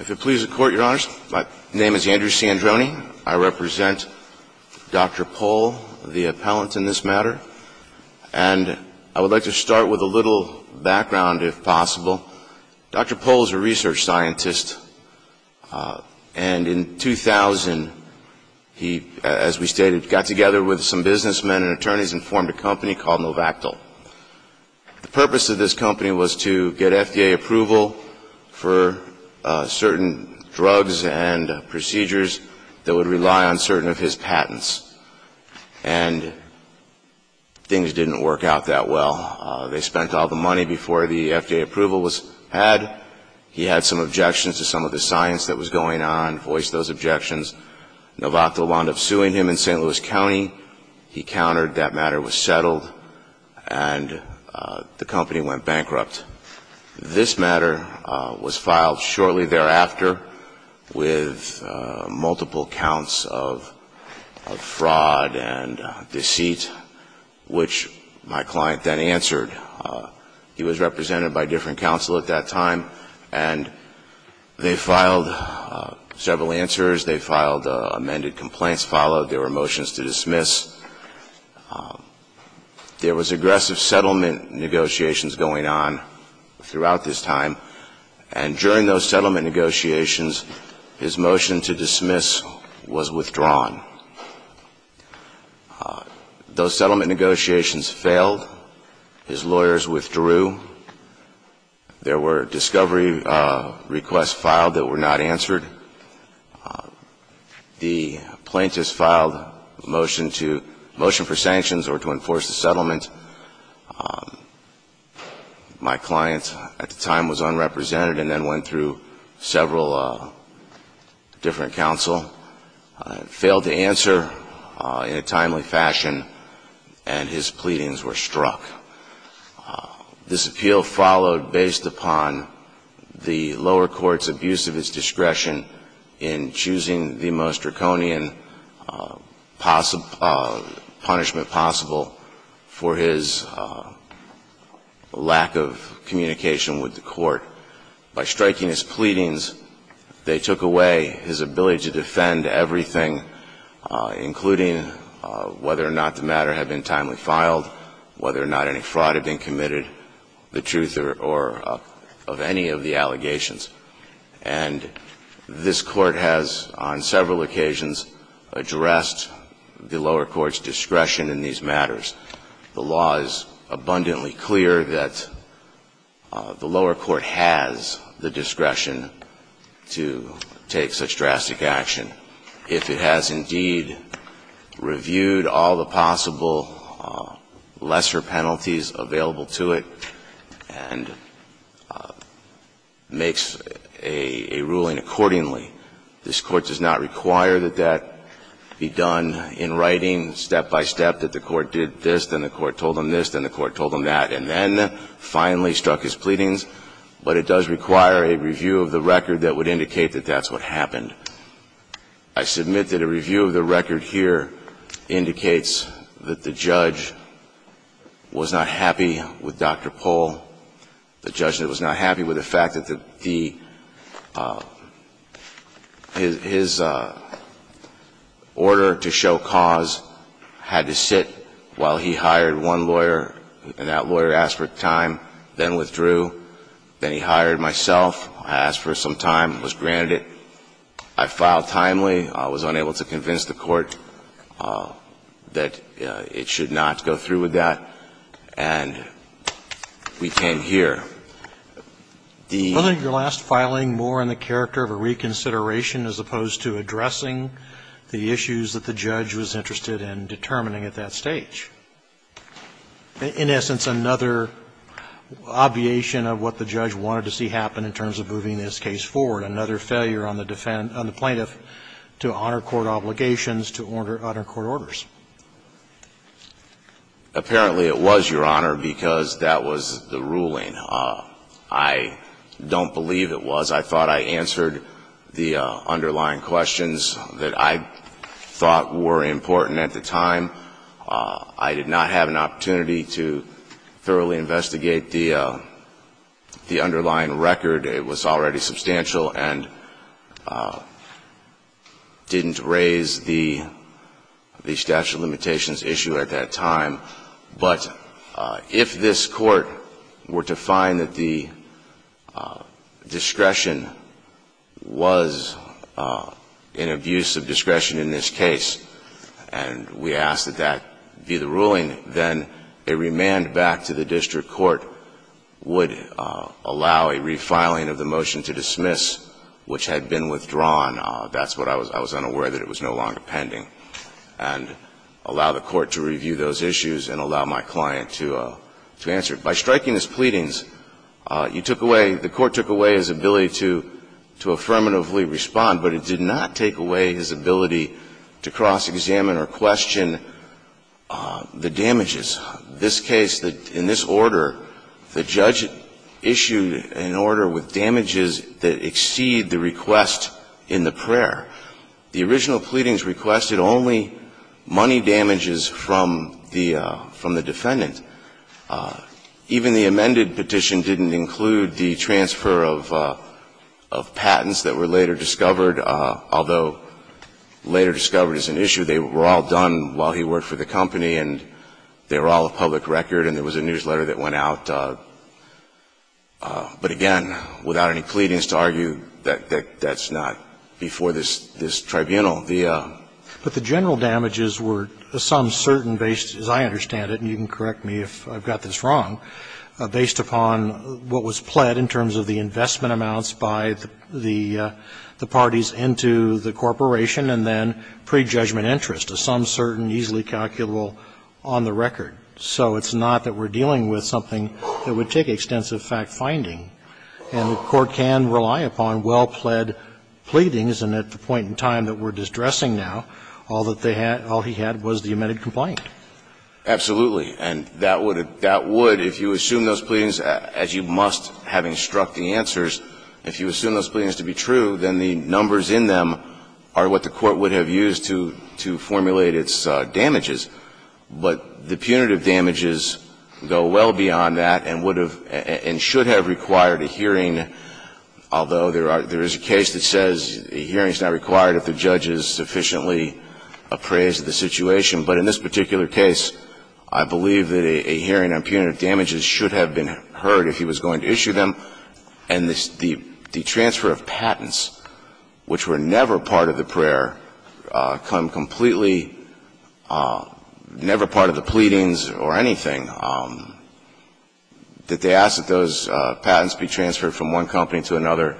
If it pleases the Court, Your Honors, my name is Andrew Sandroni. I represent Dr. Pol, the appellant in this matter. And I would like to start with a little background, if possible. Dr. Pol is a research scientist and in 2000, he, as we stated, got together with some businessmen and attorneys and formed a company called Novactyl. The purpose of this company was to get FDA approval for certain drugs and procedures that would rely on certain of his patents. And things didn't work out that well. They spent all the money before the FDA approval was had. He had some objections to some of the science that was going on, voiced those concerns. That matter was settled, and the company went bankrupt. This matter was filed shortly thereafter with multiple counts of fraud and deceit, which my client then answered. He was represented by different counsel at that time, and they filed several answers. They filed amended complaints, followed. There were motions to dismiss. There was aggressive settlement negotiations going on throughout this time, and during those settlement negotiations, his motion to dismiss was withdrawn. Those settlement negotiations failed. His lawyers withdrew. There were discovery requests filed that were not answered. The plaintiffs filed a motion for sanctions or to enforce the settlement. My client at the time was unrepresented and then went through several different counsel, failed to answer in a timely fashion, and his pleadings were struck. This appeal followed based upon the lower court's abuse of its discretion in choosing the most draconian punishment possible for his lack of communication with the court. By striking his pleadings, they took away his ability to defend everything, including whether or not the matter had been timely filed, whether or not any fraud had been committed, the truth of any of the allegations. And this Court has, on several occasions, addressed the lower court's discretion in these matters. The law is abundantly clear that the lower court has the discretion to take such drastic action. If it has, indeed, requested review of all the possible lesser penalties available to it and makes a ruling accordingly, this Court does not require that that be done in writing, step by step, that the court did this, then the court told him this, then the court told him that, and then finally struck his pleadings. But it does require a review of the record that would indicate that that's what happened. I submit that a review of the record here indicates that the judge was not happy with Dr. Pohl, the judge that was not happy with the fact that the – his order to show cause had to sit while he hired one lawyer, and that lawyer asked for time, then withdrew, then he hired myself, I asked for some time, was granted it, and then he withdrew, I filed timely, was unable to convince the court that it should not go through with that, and we came here. The – Roberts, I think your last filing more in the character of a reconsideration as opposed to addressing the issues that the judge was interested in determining at that stage. In essence, another obviation of what the judge wanted to see happen in terms of moving this case forward, another failure on the plaintiff to honor court obligations to honor court orders. Apparently, it was, Your Honor, because that was the ruling. I don't believe it was. I thought I answered the underlying questions that I thought were important at the time. I did not have an opportunity to thoroughly investigate the underlying record. It was already substantial and didn't raise the statute of limitations issue at that time, but if this court were to find that the discretion was in abuse of discretion in this case, and we ask that that be the ruling, then a remand back to the district court would allow a refiling of the motion to dismiss which had been withdrawn. That's what I was – I was unaware that it was no longer pending, and allow the court to review those issues and allow my client to answer. By striking his pleadings, you took away – the court took away his ability to affirmatively respond, but it did not take away his ability to cross-examine or question the damages. This case, in this order, the judge issued an order with damages that exceed the request in the prayer. The original pleadings requested only money damages from the – from the defendant. Even the amended petition didn't include the transfer of – of patents that were later discovered, although later discovered is an issue. They were all done while he worked for the company, and they were all of public record, and there was a newsletter that went out. But again, without any pleadings to argue that that's not before this – this tribunal, the – But the general damages were some certain based, as I understand it, and you can correct me if I've got this wrong, based upon what was pled in terms of the investment amounts by the – the parties into the corporation and then pre-judgment interest of some certain easily calculable on the record. So it's not that we're dealing with something that would take extensive fact-finding, and the court can rely upon well-pled pleadings, and at the point in time that we're distressing now, all that they had – all he had was the amended complaint. Absolutely. And that would – that would, if you assume those pleadings, as you must have instructing answers, if you assume those pleadings to be true, then the numbers in them are what the court would have used to – to formulate its damages. But the punitive damages go well beyond that and would have – and should have required a hearing, although there are – there is a case that says a hearing is not required if the judge is sufficiently appraised of the situation. But in this particular case, I believe that a hearing on punitive damages should have been heard if he was which were never part of the prayer, come completely – never part of the pleadings or anything, that they ask that those patents be transferred from one company to another,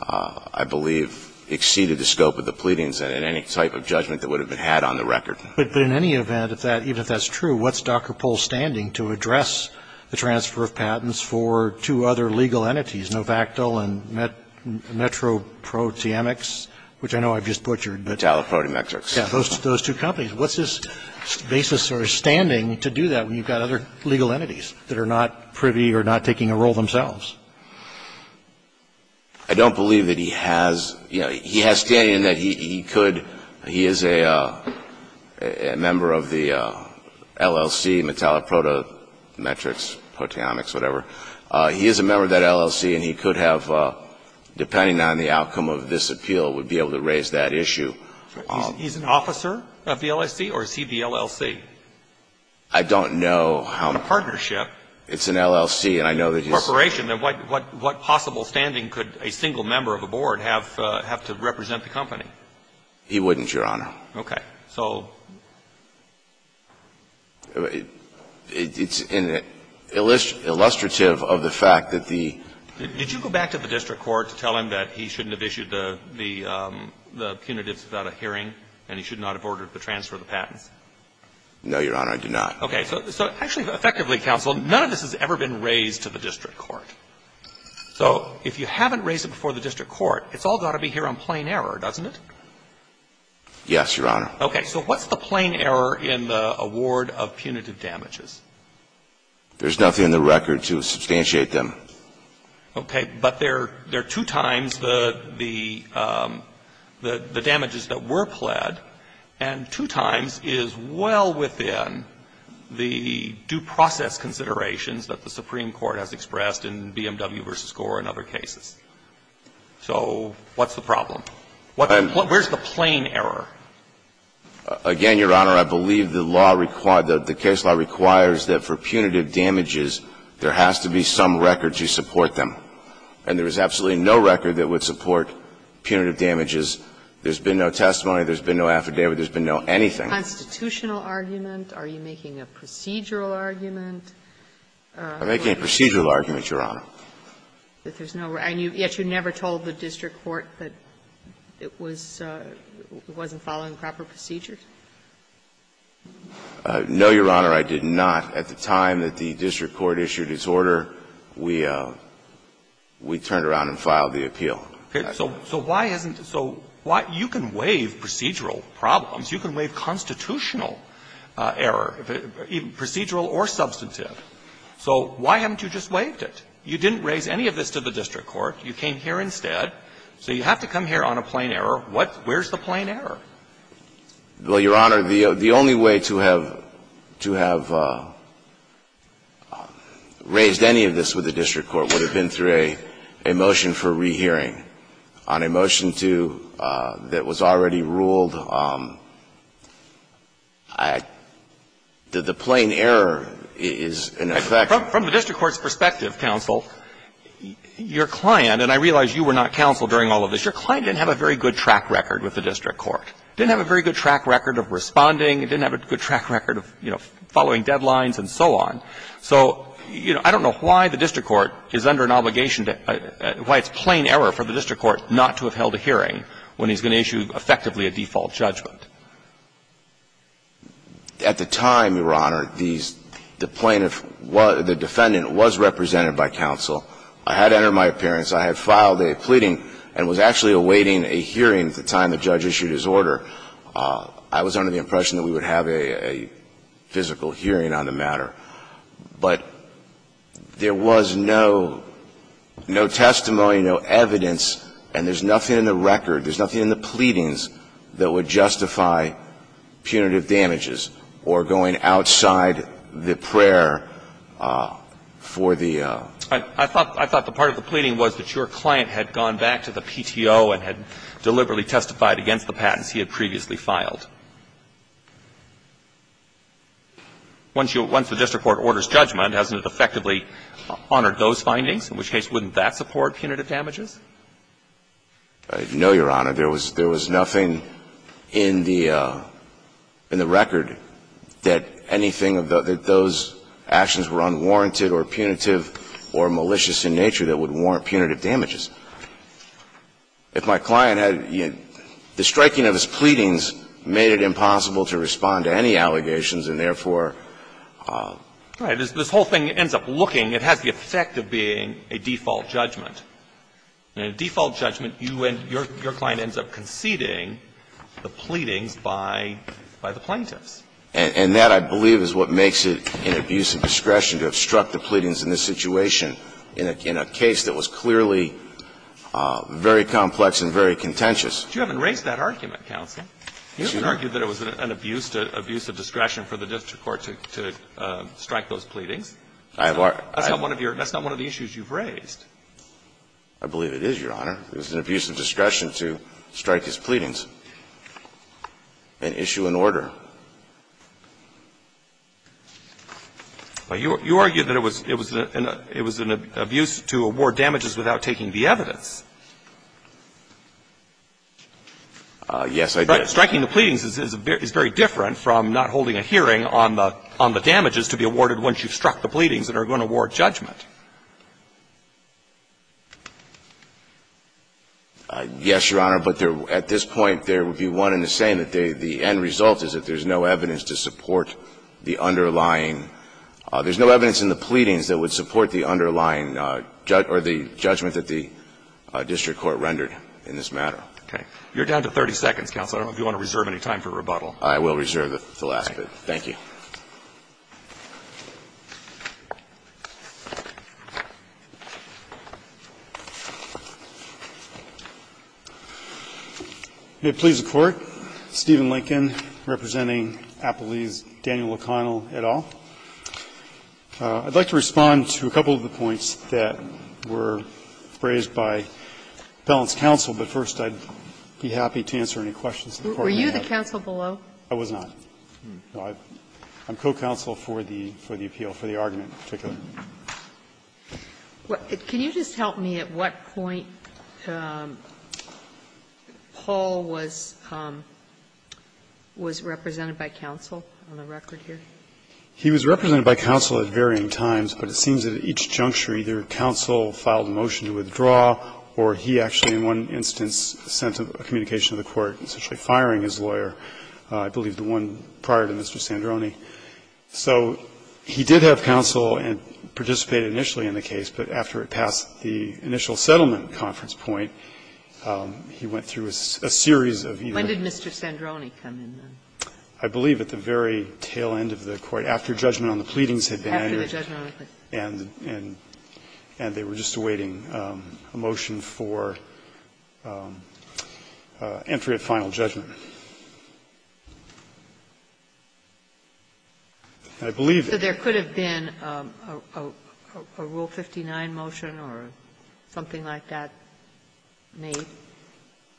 I believe exceeded the scope of the pleadings and any type of judgment that would have been had on the record. But in any event, if that – even if that's true, what's Dr. Pohl standing to address the transfer of patents for two other legal entities, Novactyl and Metroproteomics, which I know I've just butchered, but – Metalloproteometrics. Yeah, those two companies. What's his basis or his standing to do that when you've got other legal entities that are not privy or not taking a role themselves? I don't believe that he has – you know, he has standing in that he could – he is a member of the LLC, Metalloproteometrics, proteomics, whatever. He is a member of that LLC, and he could have, depending on the outcome of this appeal, would be able to raise that issue. He's an officer of the LLC, or is he the LLC? I don't know how – A partnership. It's an LLC, and I know that he's – Corporation. And what possible standing could a single member of a board have to represent the company? He wouldn't, Your Honor. Okay. So it's illustrative of the fact that the – Did you go back to the district court to tell him that he shouldn't have issued the – the punitives without a hearing and he should not have ordered the transfer of the patents? No, Your Honor, I did not. Okay. So actually, effectively, counsel, none of this has ever been raised to the district court. So if you haven't raised it before the district court, it's all got to be here on plain error, doesn't it? Yes, Your Honor. Okay. So what's the plain error in the award of punitive damages? There's nothing in the record to substantiate them. Okay. But there are two times the – the damages that were pled, and two times is well within the due process considerations that the Supreme Court has expressed in BMW v. Gore and other cases. So what's the problem? Where's the plain error? Again, Your Honor, I believe the law requires – the case law requires that for punitive damages, there has to be some record to support them. And there is absolutely no record that would support punitive damages. There's been no testimony. There's been no affidavit. There's been no anything. A constitutional argument? Are you making a procedural argument? I'm making a procedural argument, Your Honor. But there's no – and yet you never told the district court that it was – it wasn't following proper procedures? No, Your Honor, I did not. At the time that the district court issued its order, we turned around and filed the appeal. Okay. So why hasn't – so why – you can waive procedural problems. You can waive constitutional error, procedural or substantive. So why haven't you just waived it? You didn't raise any of this to the district court. You came here instead. So you have to come here on a plain error. What – where's the plain error? Well, Your Honor, the only way to have – to have raised any of this with the district court would have been through a motion for rehearing. On a motion to – that was already ruled, the plain error is in effect. From the district court's perspective, counsel, your client – and I realize you were not counsel during all of this – your client didn't have a very good track record with the district court, didn't have a very good track record of responding, didn't have a good track record of, you know, following deadlines and so on. So, you know, I don't know why the district court is under an obligation to – why it's plain error for the district court not to have held a hearing when he's going to issue effectively a default judgment. At the time, Your Honor, these – the plaintiff – the defendant was represented by counsel. I had entered my appearance. I had filed a pleading and was actually awaiting a hearing at the time the judge issued his order. I was under the impression that we would have a physical hearing on the matter. But there was no – no testimony, no evidence, and there's nothing in the record, there's nothing in the pleadings that would justify punitive damages or going outside the prayer for the – I thought – I thought the part of the pleading was that your client had gone back to the PTO and had deliberately testified against the patents he had previously filed. Once you – once the district court orders judgment, hasn't it effectively honored those findings? In which case, wouldn't that support punitive damages? No, Your Honor. There was – there was nothing in the – in the record that anything of the – that those actions were unwarranted or punitive or malicious in nature that would warrant punitive damages. If my client had – the striking of his pleadings made it impossible to respond to any allegations, and therefore – Right. This whole thing ends up looking – it has the effect of being a default judgment. In a default judgment, you end – your client ends up conceding the pleadings by – by the plaintiffs. And that, I believe, is what makes it an abuse of discretion to obstruct the pleadings in this situation in a – in a case that was clearly very complex and very contentious. But you haven't raised that argument, counsel. You haven't argued that it was an abuse to – abuse of discretion for the district court to strike those pleadings. I have argued – I believe it is, Your Honor. It was an abuse of discretion to strike his pleadings and issue an order. You argue that it was – it was an abuse to award damages without taking the evidence. Yes, I did. Striking the pleadings is very different from not holding a hearing on the damages to be awarded once you've struck the pleadings and are going to award judgment. Yes, Your Honor. But there – at this point, there would be one in the same, that the end result is that there's no evidence to support the underlying – there's no evidence in the pleadings that would support the underlying – or the judgment that the district court rendered in this matter. Okay. You're down to 30 seconds, counsel. I don't know if you want to reserve any time for rebuttal. I will reserve the last bit. Thank you. May it please the Court, Stephen Lincoln representing Appellee's Daniel O'Connell et al. I'd like to respond to a couple of the points that were raised by Appellant's counsel, but first I'd be happy to answer any questions the Court may have. Were you the counsel below? I was not. I'm co-counsel for the appeal, for the argument in particular. Can you just help me at what point Paul was represented by counsel on the record here? He was represented by counsel at varying times, but it seems that at each juncture either counsel filed a motion to withdraw or he actually in one instance sent a communication to the court, essentially firing his lawyer, I believe the one prior to Mr. Sandroni. So he did have counsel and participated initially in the case, but after it passed the initial settlement conference point, he went through a series of either of them. When did Mr. Sandroni come in, then? I believe at the very tail end of the court, after judgment on the pleadings had been entered. After the judgment on the pleadings. And they were just awaiting a motion for entry at final judgment. I believe that there could have been a Rule 59 motion or something like that made.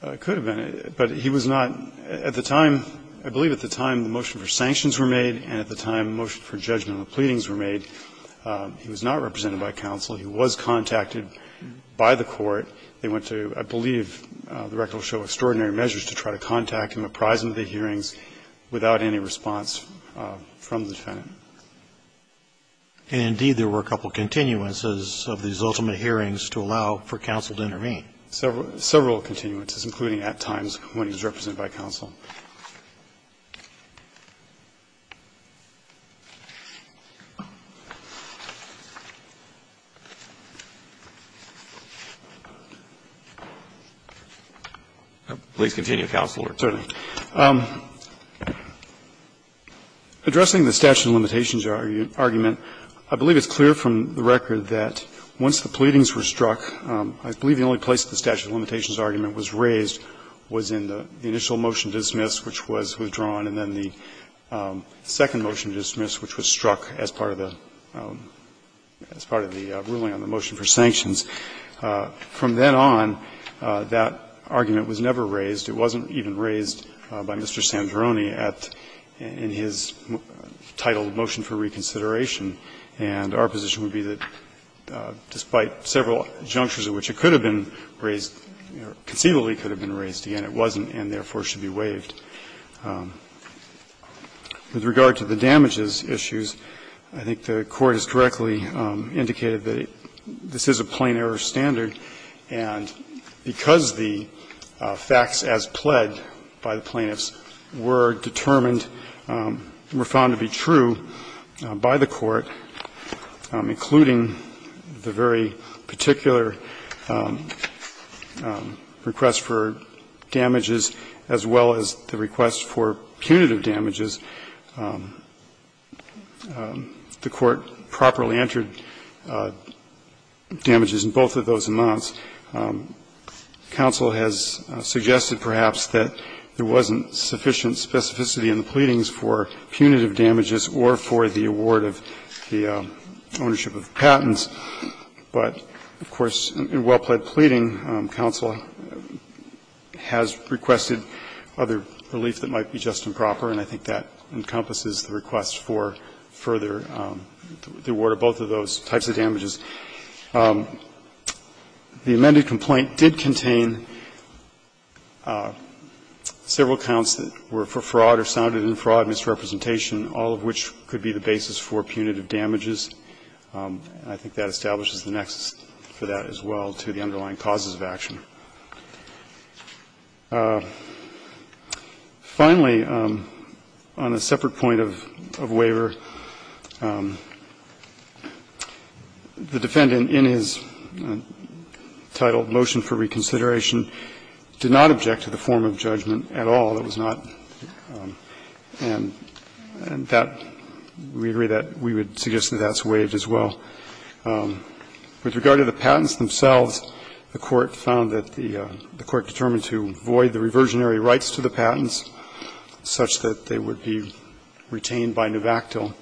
It could have been, but he was not at the time. I believe at the time the motion for sanctions were made and at the time the motion for judgment on the pleadings were made, he was not represented by counsel. He was contacted by the court. They went to, I believe, the record will show extraordinary measures to try to contact him apprised of the hearings without any response from the defendant. And indeed there were a couple continuances of these ultimate hearings to allow for counsel to intervene. Please continue, Counselor. Certainly. Addressing the statute of limitations argument, I believe it's clear from the record that once the pleadings were struck, I believe the only place that the statute of limitations argument was raised was in the initial motion to dismiss, which was withdrawn, and then the second motion to dismiss, which was struck as part of the ruling on the motion for sanctions. From then on, that argument was never raised. It wasn't even raised by Mr. Sandroni at his title of motion for reconsideration. And our position would be that despite several junctures in which it could have been raised, conceivably could have been raised again, it wasn't and therefore should be waived. With regard to the damages issues, I think the Court has directly indicated that this is a plain-error standard, and because the facts as pled by the plaintiffs were determined, were found to be true by the Court, I think it's fair to say that the Court, including the very particular request for damages, as well as the request for punitive damages, the Court properly entered damages in both of those amounts. Counsel has suggested perhaps that there wasn't sufficient specificity in the pleadings for punitive damages or for the award of punitive damages. That's the ownership of the patents. But, of course, in well-pled pleading, counsel has requested other relief that might be just and proper, and I think that encompasses the request for further, the award of both of those types of damages. The amended complaint did contain several counts that were for fraud or sounded in fraud, misrepresentation, all of which could be the basis for punitive damages, and I think that establishes the nexus for that as well to the underlying causes of action. Finally, on a separate point of waiver, the defendant in his title motion for reconsideration did not object to the form of judgment at all. It was not and that we agree that we would suggest that that's waived as well. With regard to the patents themselves, the Court found that the Court determined to void the reversionary rights to the patents such that they would be retained by nuvactil.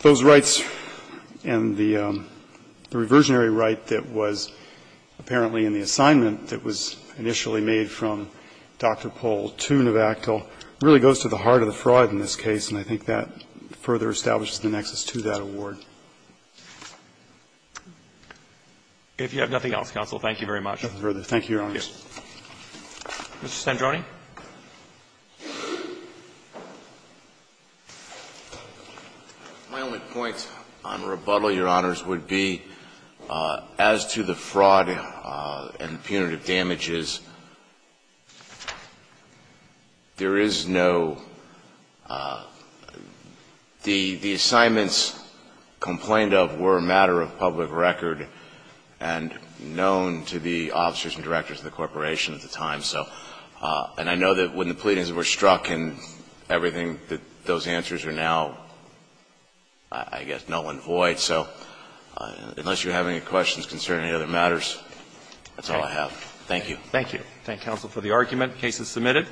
Those rights and the reversionary right that was apparently in the assignment that was initially made from Dr. Pohl to nuvactil really goes to the heart of the fraud in this case, and I think that further establishes the nexus to that award. If you have nothing else, counsel, thank you very much. Thank you, Your Honors. Mr. Sandroni. My only point on rebuttal, Your Honors, would be as to the fraud and punitive damages, there is no – the assignments complained of were a matter of public record and known to the officers and directors of the corporation at the time. And I know that when the pleadings were struck and everything, that those answers are now, I guess, null and void. So unless you have any questions concerning any other matters, that's all I have. Thank you. Thank you. Thank you, counsel, for the argument. The case is submitted.